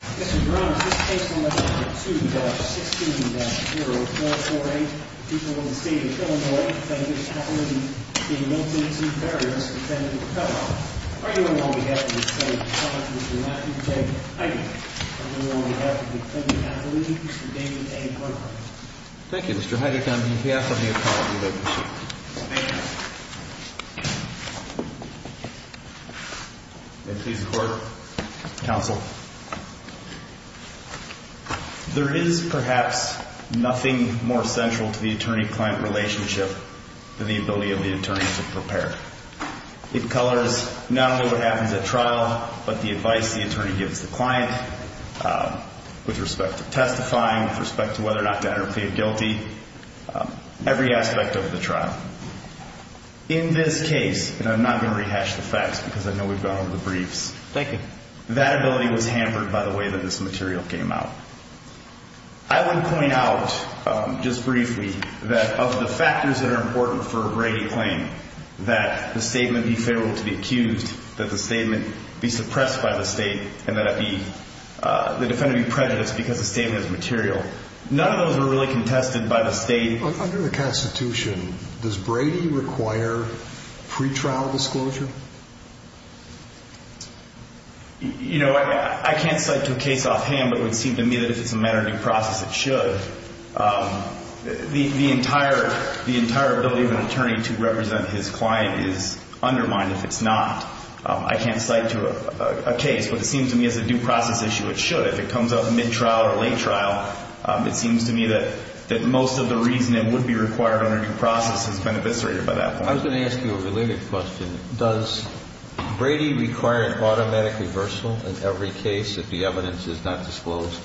Mr. Brown, is this case 11-2-16-0448? The people of the state of Illinois defend Mr. Heidegge being guilty to Berrios, defendant of a cut-off. Are you in law on behalf of the state of Colorado, Mr. Matthew J. Heidegge? Are you in law on behalf of the defendant, Kathleen, Mr. David A. Brown? Thank you, Mr. Heidegge. I'm here on behalf of the ecology leadership. Thank you. May it please the Court, Counsel. There is perhaps nothing more central to the attorney-client relationship than the ability of the attorney to prepare. It colors not only what happens at trial, but the advice the attorney gives the client with respect to testifying, with respect to whether or not to enter a plea of guilty, every aspect of the trial. In this case, and I'm not going to rehash the facts because I know we've gone over the briefs. Thank you. That ability was hampered by the way that this material came out. I would point out, just briefly, that of the factors that are important for a Brady claim, that the statement be favorable to be accused, that the statement be suppressed by the state, and that the defendant be prejudiced because the statement is material, none of those were really contested by the state. Under the Constitution, does Brady require pre-trial disclosure? You know, I can't cite to a case offhand, but it would seem to me that if it's a matter of due process, it should. The entire ability of an attorney to represent his client is undermined if it's not. I can't cite to a case, but it seems to me as a due process issue, it should. But if it comes up mid-trial or late trial, it seems to me that most of the reason it would be required under due process has been eviscerated by that point. I was going to ask you a related question. Does Brady require an automatic reversal in every case if the evidence is not disclosed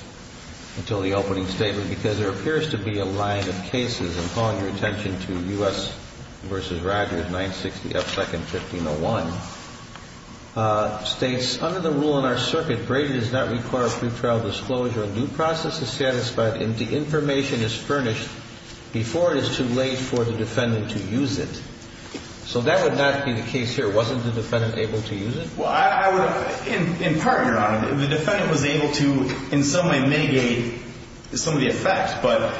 until the opening statement? Because there appears to be a line of cases, and I'm calling your attention to U.S. v. Rogers, 960 F. 2nd, 1501, states, under the rule in our circuit, Brady does not require pre-trial disclosure. A due process is satisfied if the information is furnished before it is too late for the defendant to use it. So that would not be the case here. Wasn't the defendant able to use it? Well, in part, Your Honor, the defendant was able to in some way mitigate some of the effects. But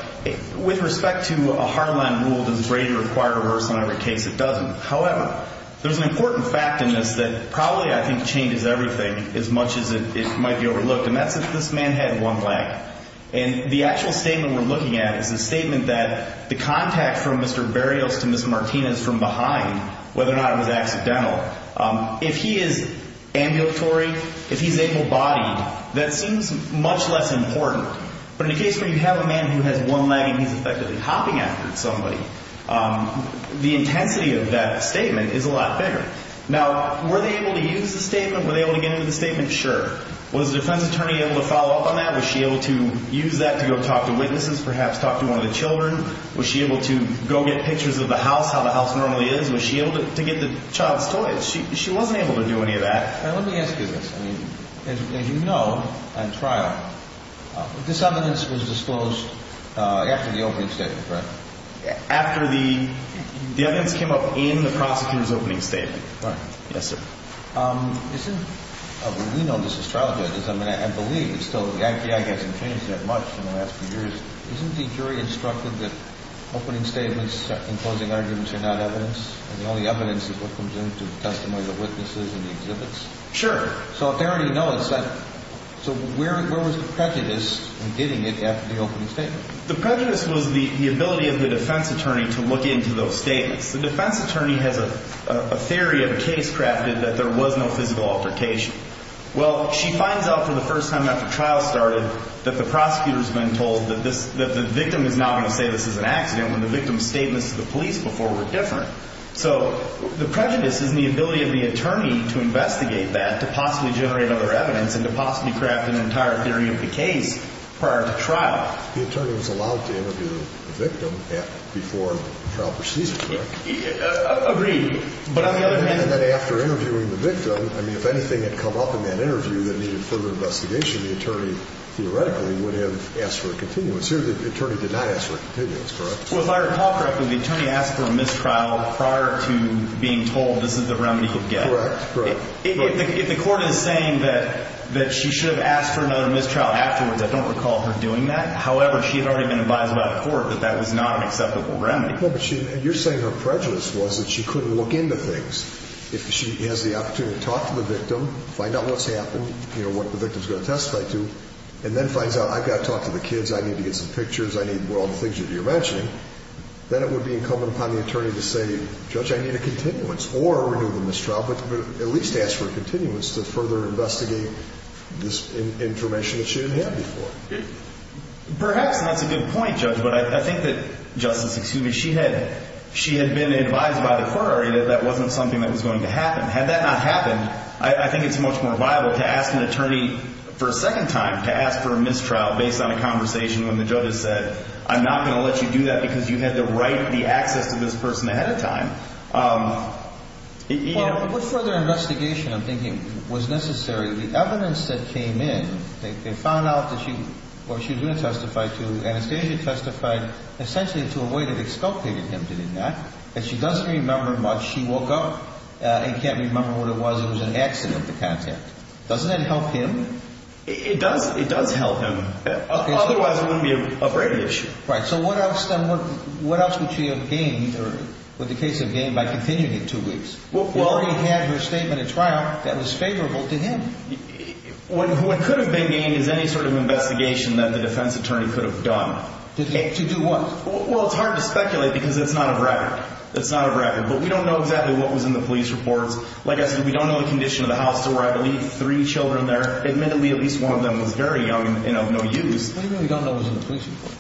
with respect to a hardline rule, does Brady require a reversal in every case? It doesn't. However, there's an important fact in this that probably I think changes everything as much as it might be overlooked, and that's that this man had one leg. And the actual statement we're looking at is a statement that the contact from Mr. Berrios to Ms. Martinez from behind, whether or not it was accidental, if he is ambulatory, if he's able-bodied, that seems much less important. But in a case where you have a man who has one leg and he's effectively hopping after somebody, the intensity of that statement is a lot bigger. Now, were they able to use the statement? Were they able to get into the statement? Sure. Was the defense attorney able to follow up on that? Was she able to use that to go talk to witnesses, perhaps talk to one of the children? Was she able to go get pictures of the house, how the house normally is? Was she able to get the child's toys? She wasn't able to do any of that. Let me ask you this. As you know, on trial, this evidence was disclosed after the opening statement, correct? After the evidence came up in the prosecutor's opening statement. Right. Yes, sir. We know this is childhood. I mean, I believe still the IPI hasn't changed that much in the last few years. Isn't the jury instructed that opening statements and closing arguments are not evidence? I mean, all the evidence is what comes into the testimony of the witnesses and the exhibits. Sure. So if they already know it, so where was the prejudice in getting it after the opening statement? The prejudice was the ability of the defense attorney to look into those statements. The defense attorney has a theory of a case crafted that there was no physical altercation. Well, she finds out for the first time after trial started that the prosecutor has been told that the victim is not going to say this is an accident when the victim's statements to the police before were different. So the prejudice is in the ability of the attorney to investigate that, to possibly generate other evidence and to possibly craft an entire theory of the case prior to trial. The attorney was allowed to interview the victim before trial proceeded, correct? Agreed. And then after interviewing the victim, I mean, if anything had come up in that interview that needed further investigation, the attorney theoretically would have asked for a continuance. Here the attorney did not ask for a continuance, correct? Well, if I recall correctly, the attorney asked for a mistrial prior to being told this is the remedy he could get. Correct. If the court is saying that she should have asked for another mistrial afterwards, I don't recall her doing that. However, she had already been advised by the court that that was not an acceptable remedy. You're saying her prejudice was that she couldn't look into things. If she has the opportunity to talk to the victim, find out what's happened, you know, what the victim's going to testify to, and then finds out, I've got to talk to the kids, I need to get some pictures, I need all the things that you're mentioning, then it would be incumbent upon the attorney to say, Judge, I need a continuance or renew the mistrial, but at least ask for a continuance to further investigate this information that she didn't have before. Perhaps that's a good point, Judge, but I think that, Justice, excuse me, she had been advised by the court already that that wasn't something that was going to happen. Had that not happened, I think it's much more viable to ask an attorney for a second time to ask for a mistrial based on a conversation when the judge has said, I'm not going to let you do that because you had the right, the access to this person ahead of time. Well, the further investigation, I'm thinking, was necessary. The evidence that came in, they found out that she, or she was going to testify to, Anastasia testified essentially to a way that exculpated him to do that, but she doesn't remember much. She woke up and can't remember what it was. It was an accident, the contact. Doesn't that help him? It does help him. Otherwise, it wouldn't be a brain issue. Right. So what else would she have gained or, with the case of gain, by continuing it two weeks? She already had her statement at trial that was favorable to him. What could have been gained is any sort of investigation that the defense attorney could have done. To do what? Well, it's hard to speculate because it's not a record. It's not a record. But we don't know exactly what was in the police reports. Like I said, we don't know the condition of the house to where I believe three children are there. Admittedly, at least one of them was very young and of no use. What do you mean we don't know what was in the police reports?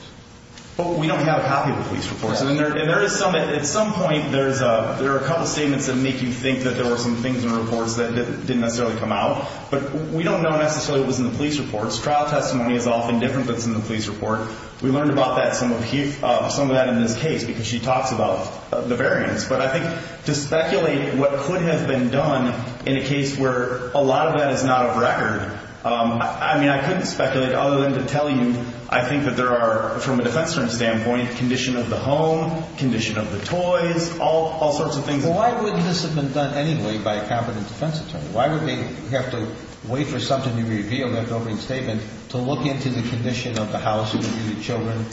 Well, we don't have a copy of the police reports. At some point, there are a couple of statements that make you think that there were some things in the reports that didn't necessarily come out. But we don't know necessarily what was in the police reports. Trial testimony is often different than what's in the police report. We learned about some of that in this case because she talks about the variance. But I think to speculate what could have been done in a case where a lot of that is not a record, I mean, I couldn't speculate other than to tell you I think that there are, from a defense attorney's standpoint, condition of the home, condition of the toys, all sorts of things. Well, why wouldn't this have been done anyway by a competent defense attorney? Why would they have to wait for something to be revealed, an open statement, to look into the condition of the house and the children?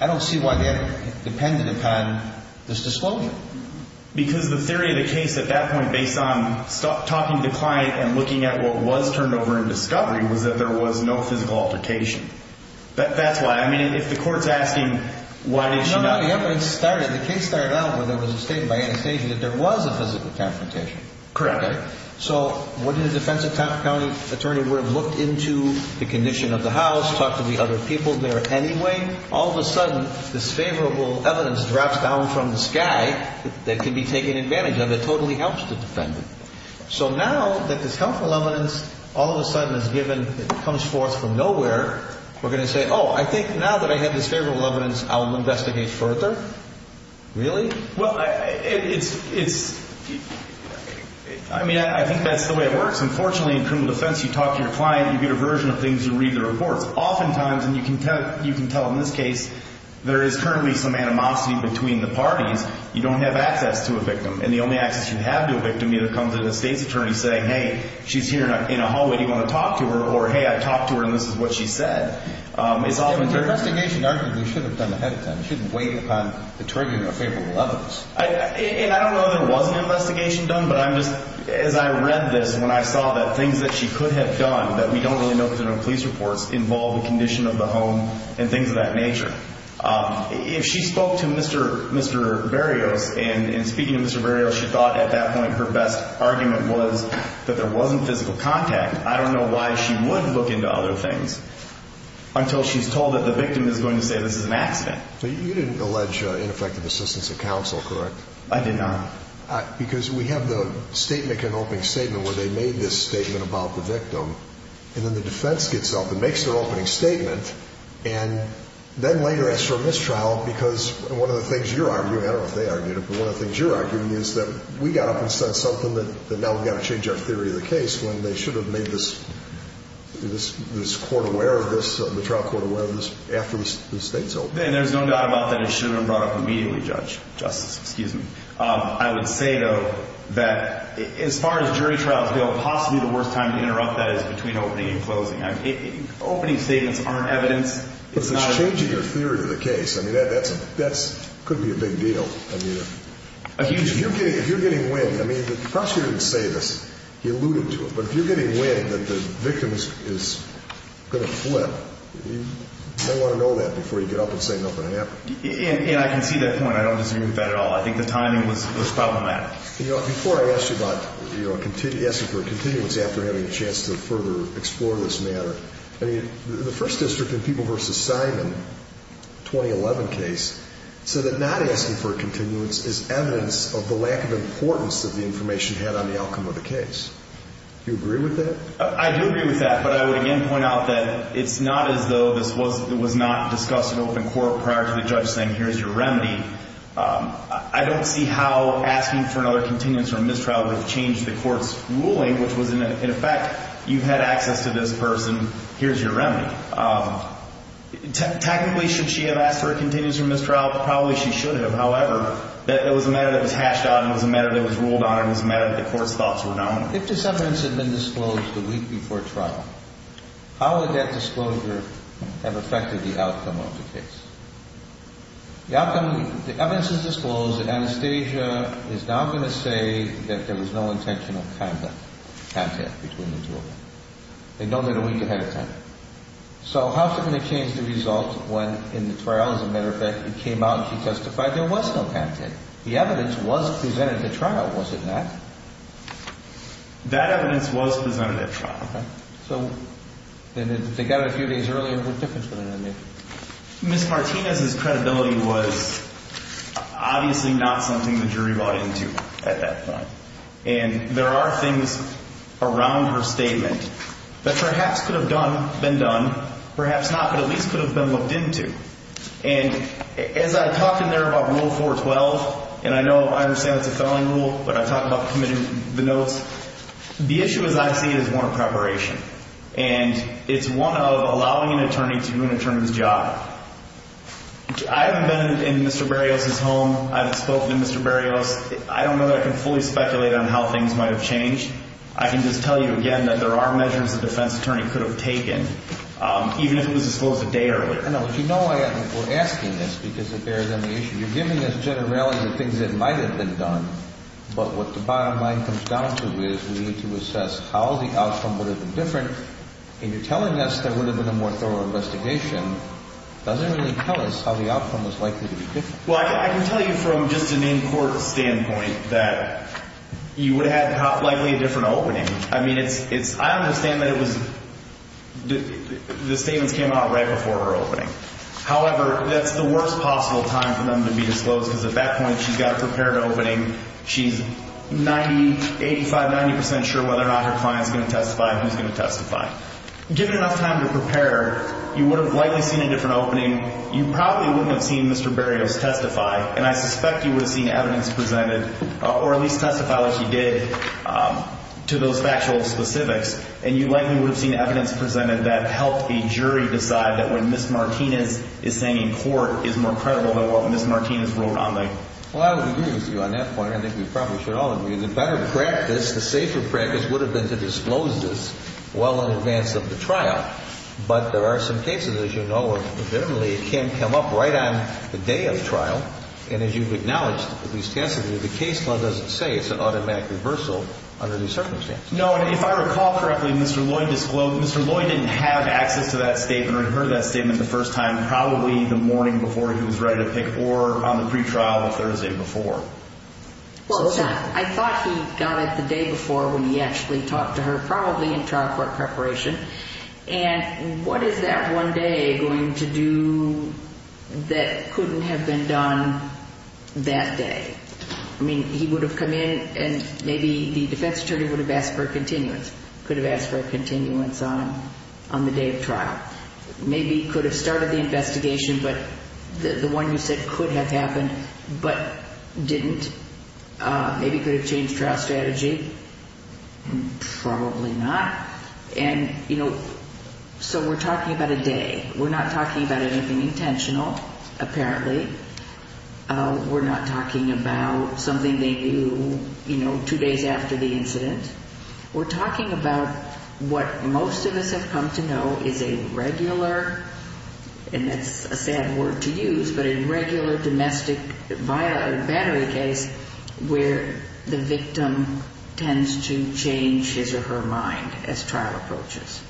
I don't see why they're dependent upon this disclosure. Because the theory of the case at that point, based on talking to the client and looking at what was turned over in discovery, was that there was no physical altercation. That's why. I mean, if the court's asking, why did she not? No, no, the evidence started, the case started out where there was a statement by Anastasia that there was a physical confrontation. Correct. So, wouldn't a defensive county attorney would have looked into the condition of the house, talked to the other people there anyway? All of a sudden, this favorable evidence drops down from the sky that can be taken advantage of. It totally helps the defendant. So now that this helpful evidence all of a sudden is given, comes forth from nowhere, we're going to say, oh, I think now that I have this favorable evidence, I'll investigate further? Really? Well, it's, I mean, I think that's the way it works. Unfortunately, in criminal defense, you talk to your client, you get a version of things, you read the reports. Oftentimes, and you can tell in this case, there is currently some animosity between the parties. You don't have access to a victim. And the only access you have to a victim either comes with a state's attorney saying, hey, she's here in a hallway, do you want to talk to her? Or, hey, I talked to her and this is what she said. It's often very – An investigation, arguably, should have been done ahead of time. It shouldn't wait upon the trigger of a favorable evidence. And I don't know if there was an investigation done, but I'm just, as I read this, when I saw that things that she could have done that we don't really know because there are no police reports, involve the condition of the home and things of that nature. If she spoke to Mr. Berrios and speaking to Mr. Berrios, she thought at that point her best argument was that there wasn't physical contact. I don't know why she would look into other things until she's told that the victim is going to say this is an accident. But you didn't allege ineffective assistance of counsel, correct? I did not. Because we have the statement, an opening statement, where they made this statement about the victim. And then the defense gets up and makes their opening statement. And then later, as for mistrial, because one of the things you're arguing, I don't know if they argued it, but one of the things you're arguing is that we got up and said something that now we've got to change our theory of the case when they should have made this court aware of this, the trial court aware of this, after the state's opening. And there's no doubt about that it should have been brought up immediately, Justice. I would say, though, that as far as jury trials go, possibly the worst time to interrupt that is between opening and closing. Opening statements aren't evidence. But it's changing your theory of the case. I mean, that could be a big deal. A huge deal. If you're getting wind, I mean, the prosecutor didn't say this. He alluded to it. But if you're getting wind that the victim is going to flip, you may want to know that before you get up and say nothing happened. And I can see that point. I don't disagree with that at all. I think the timing was problematic. Before I asked you about asking for a continuance after having a chance to further explore this matter, the first district in the People v. Simon 2011 case said that not asking for a continuance is evidence of the lack of importance that the information had on the outcome of the case. Do you agree with that? I do agree with that. But I would again point out that it's not as though this was not discussed in open court prior to the judge saying, here's your remedy. I don't see how asking for another continuance or mistrial would have changed the court's ruling, which was, in effect, you had access to this person, here's your remedy. Technically, should she have asked for a continuance or mistrial? Probably she should have. However, it was a matter that was hashed out and it was a matter that was ruled on and it was a matter that the court's thoughts were known. If this evidence had been disclosed a week before trial, how would that disclosure have affected the outcome of the case? The evidence is disclosed that Anastasia is now going to say that there was no intentional contact between the two of them. They know that a week ahead of time. So how is it going to change the result when, in the trial, as a matter of fact, Anastasia came out and she testified there was no contact? The evidence was presented at trial, was it not? That evidence was presented at trial. Okay. So they got it a few days earlier. What difference would it have made? Ms. Martinez's credibility was obviously not something the jury bought into at that time. And there are things around her statement that perhaps could have been done, perhaps not, but at least could have been looked into. And as I talk in there about Rule 412, and I know I understand it's a felony rule, but I talk about committing the notes, the issue, as I see it, is one of preparation. And it's one of allowing an attorney to do an attorney's job. I haven't been in Mr. Berrios' home. I haven't spoken to Mr. Berrios. I don't know that I can fully speculate on how things might have changed. I can just tell you again that there are measures the defense attorney could have taken, even if it was disclosed a day earlier. I know, but you know I am asking this because it bears on the issue. You're giving us generally the things that might have been done. But what the bottom line comes down to is we need to assess how the outcome would have been different. And you're telling us there would have been a more thorough investigation doesn't really tell us how the outcome was likely to be different. Well, I can tell you from just an in-court standpoint that you would have had likely a different opening. I mean, it's – I understand that it was – the statements came out right before her opening. However, that's the worst possible time for them to be disclosed because at that point she's got a prepared opening. She's 90, 85, 90 percent sure whether or not her client's going to testify and who's going to testify. Given enough time to prepare, you would have likely seen a different opening. You probably wouldn't have seen Mr. Berrios testify. And I suspect you would have seen evidence presented or at least testified, as you did, to those factual specifics. And you likely would have seen evidence presented that helped a jury decide that when Ms. Martinez is saying in court is more credible than what Ms. Martinez wrote on there. Well, I would agree with you on that point. I think we probably should all agree. The better practice, the safer practice would have been to disclose this well in advance of the trial. But there are some cases, as you know, that can come up right on the day of the trial. And as you've acknowledged, the case law doesn't say it's an automatic reversal under these circumstances. No, and if I recall correctly, Mr. Lloyd disclosed – Mr. Lloyd didn't have access to that statement or heard that statement the first time, probably the morning before he was ready to pick or on the pretrial the Thursday before. Well, I thought he got it the day before when he actually talked to her, probably in trial court preparation. And what is that one day going to do that couldn't have been done that day? I mean, he would have come in and maybe the defense attorney would have asked for a continuance, could have asked for a continuance on the day of trial. Maybe he could have started the investigation, but the one you said could have happened but didn't. Maybe he could have changed trial strategy. Probably not. And, you know, so we're talking about a day. We're not talking about anything intentional, apparently. We're not talking about something they do, you know, two days after the incident. We're talking about what most of us have come to know is a regular, and that's a sad word to use, but a regular domestic battery case where the victim tends to change his or her mind as trial approaches.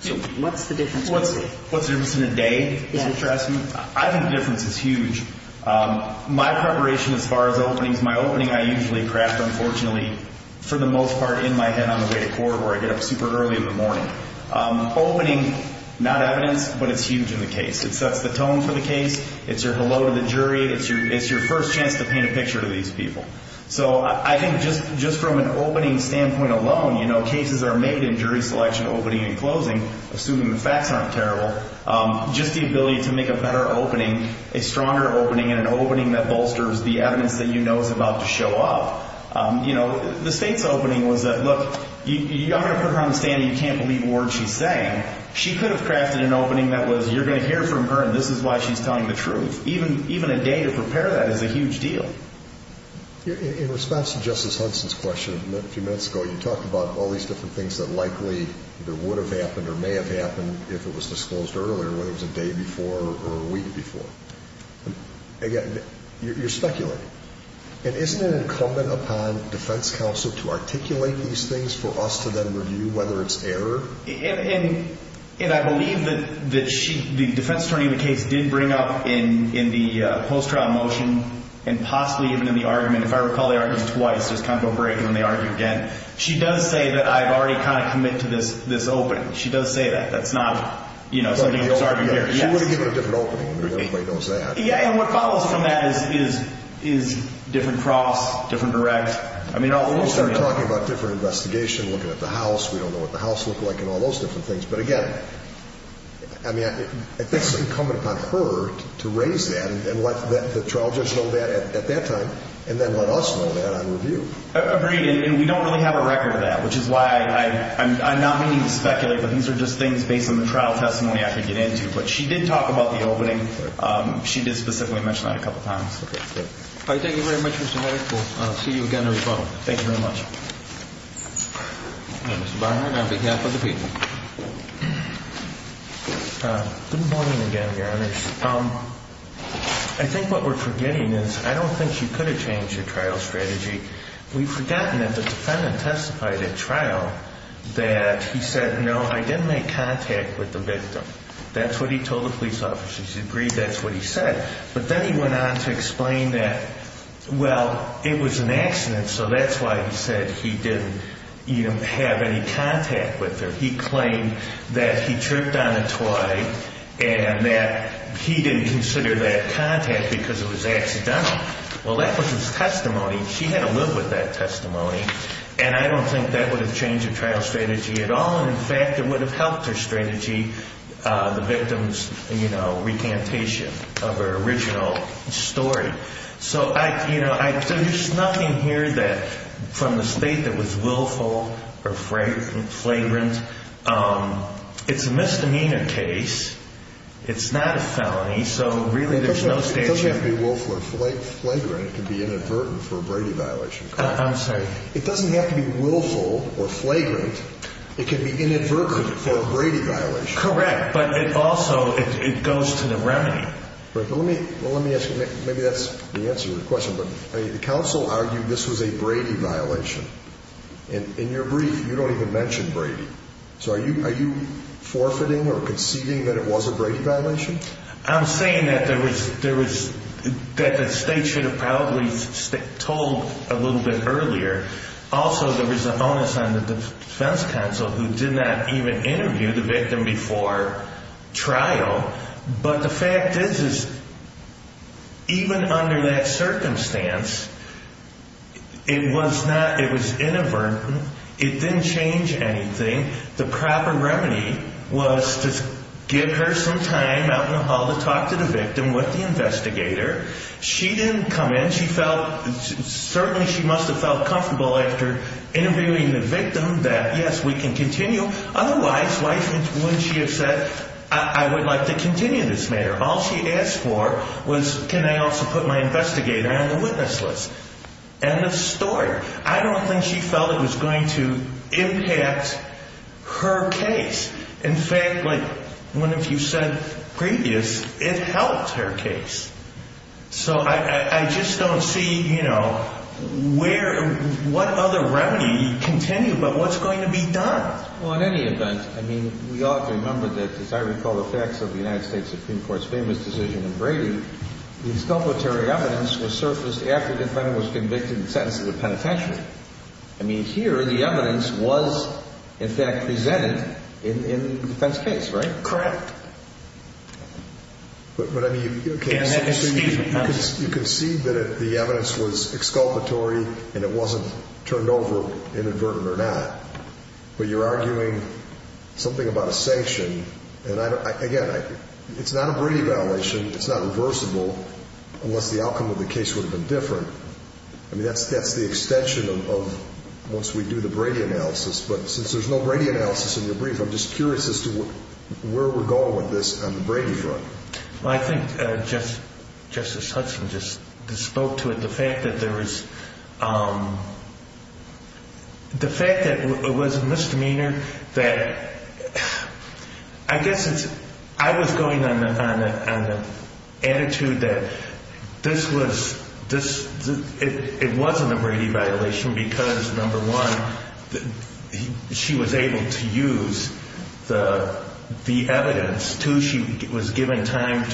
So what's the difference? What's the difference in a day? I think the difference is huge. My preparation as far as openings, my opening I usually craft, unfortunately, for the most part, in my head on the way to court where I get up super early in the morning. Opening, not evidence, but it's huge in the case. It sets the tone for the case. It's your hello to the jury. It's your first chance to paint a picture to these people. So I think just from an opening standpoint alone, you know, cases are made in jury selection, opening and closing, assuming the facts aren't terrible. Just the ability to make a better opening, a stronger opening, and an opening that bolsters the evidence that you know is about to show up. You know, the state's opening was that, look, I'm going to put her on the stand and you can't believe a word she's saying. She could have crafted an opening that was you're going to hear from her, and this is why she's telling the truth. Even a day to prepare that is a huge deal. In response to Justice Hudson's question a few minutes ago, you talked about all these different things that likely would have happened or may have happened if it was disclosed earlier, whether it was a day before or a week before. Again, you're speculating. And isn't it incumbent upon defense counsel to articulate these things for us to then review, whether it's error? And I believe that the defense attorney in the case did bring up in the post-trial motion and possibly even in the argument, if I recall, they argued twice. There's kind of a break and then they argued again. She does say that I've already kind of committed to this opening. She does say that. That's not, you know, something that's already there. She would have given a different opening. Nobody knows that. Yeah, and what follows from that is different cross, different direct. We started talking about different investigation, looking at the house. We don't know what the house looked like and all those different things. But again, I mean, I think it's incumbent upon her to raise that and let the trial judge know that at that time and then let us know that on review. Agreed. And we don't really have a record of that, which is why I'm not meaning to speculate, but these are just things based on the trial testimony I could get into. But she did talk about the opening. She did specifically mention that a couple of times. Thank you very much. See you again. Thank you very much. On behalf of the people. I think what we're forgetting is I don't think you could have changed your trial strategy. We've forgotten that the defendant testified at trial that he said, no, I didn't make contact with the victim. That's what he told the police officers. He agreed. That's what he said. But then he went on to explain that, well, it was an accident. So that's why he said he didn't have any contact with her. He claimed that he tripped on a toy and that he didn't consider that contact because it was accidental. Well, that was his testimony. She had to live with that testimony. And I don't think that would have changed your trial strategy at all. In fact, it would have helped her strategy. The victim's recantation of her original story. So there's nothing here that from the state that was willful or flagrant. It's a misdemeanor case. It's not a felony. So really, there's no statute. It doesn't have to be willful or flagrant. It could be inadvertent for a Brady violation. I'm sorry. It doesn't have to be willful or flagrant. It could be inadvertent for a Brady violation. Correct. But also, it goes to the remedy. Let me ask you. Maybe that's the answer to your question. But the counsel argued this was a Brady violation. And in your brief, you don't even mention Brady. So are you forfeiting or conceiving that it was a Brady violation? I'm saying that the state should have probably told a little bit earlier. Also, there was an onus on the defense counsel who did not even interview the victim before trial. But the fact is, even under that circumstance, it was inadvertent. It didn't change anything. The proper remedy was to give her some time out in the hall to talk to the victim with the investigator. She didn't come in. Certainly, she must have felt comfortable after interviewing the victim that, yes, we can continue. Otherwise, why wouldn't she have said, I would like to continue this matter? All she asked for was, can I also put my investigator on the witness list? End of story. I don't think she felt it was going to impact her case. In fact, like one of you said previous, it helped her case. So I just don't see what other remedy you continue, but what's going to be done? Well, in any event, we ought to remember that, as I recall the facts of the United States Supreme Court's famous decision on Brady, the exculpatory evidence was surfaced after the defendant was convicted and sentenced to the penitentiary. Here, the evidence was, in fact, presented in the defense case, right? Correct. But, I mean, you can see that the evidence was exculpatory and it wasn't turned over, inadvertently or not. But you're arguing something about a sanction. And, again, it's not a Brady violation. It's not reversible unless the outcome of the case would have been different. I mean, that's the extension of once we do the Brady analysis. But since there's no Brady analysis in your brief, I'm just curious as to where we're going with this on the Brady front. Well, I think Justice Hudson just spoke to it. The fact that there was a misdemeanor that, I guess I was going on an attitude that this was, it wasn't a Brady violation because, number one, she was able to use the evidence. Two, she was given time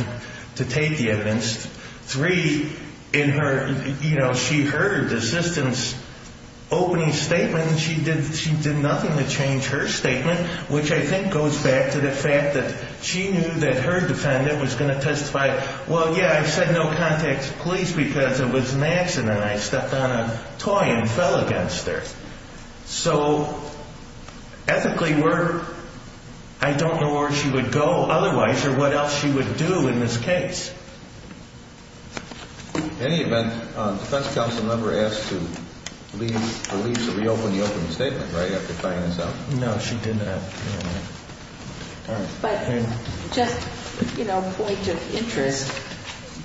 to take the evidence. Three, in her, you know, she heard the assistant's opening statement. She did nothing to change her statement, which I think goes back to the fact that she knew that her defendant was going to testify. Well, yeah, I said no contact to police because it was an accident and I stepped on a toy and fell against her. So, ethically, I don't know where she would go otherwise or what else she would do in this case. In any event, the defense counsel never asked the police to reopen the opening statement, right, after finding this out? No, she did not. But, just, you know, point of interest,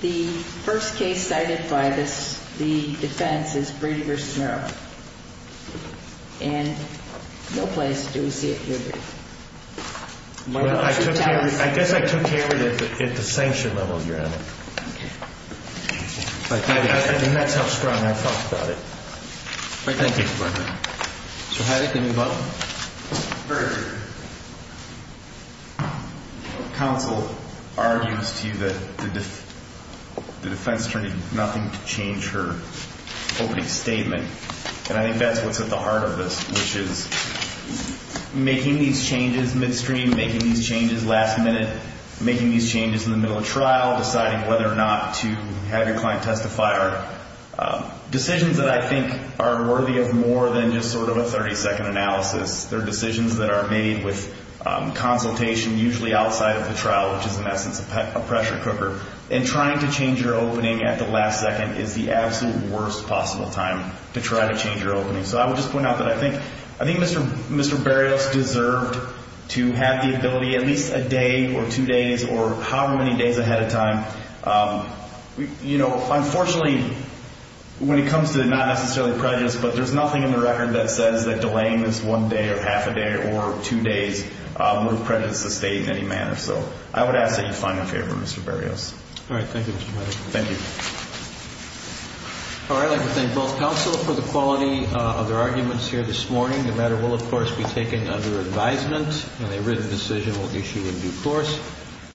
the first case cited by the defense is Brady v. Merrill. And no place do we see it here. I guess I took care of it at the sanction level, Your Honor. Okay. I think that's how strong I felt about it. Thank you. So, Heidi, can you vote? Very good. Counsel argues to you that the defense attorney did nothing to change her opening statement. And I think that's what's at the heart of this, which is making these changes midstream, making these changes last minute, making these changes in the middle of trial, deciding whether or not to have your client testify are decisions that I think are worthy of more than just sort of a 30-second analysis. They're decisions that are made with consultation, usually outside of the trial, which is, in essence, a pressure cooker. And trying to change your opening at the last second is the absolute worst possible time to try to change your opening. So I would just point out that I think Mr. Berrios deserved to have the ability at least a day or two days or however many days ahead of time. You know, unfortunately, when it comes to not necessarily prejudice, but there's nothing in the record that says that delaying this one day or half a day or two days would have prejudiced the State in any manner. So I would ask that you find a favor, Mr. Berrios. All right. Thank you, Mr. Medley. Thank you. All right. I'd like to thank both counsel for the quality of their arguments here this morning. The matter will, of course, be taken under advisement, and a written decision will be issued in due course.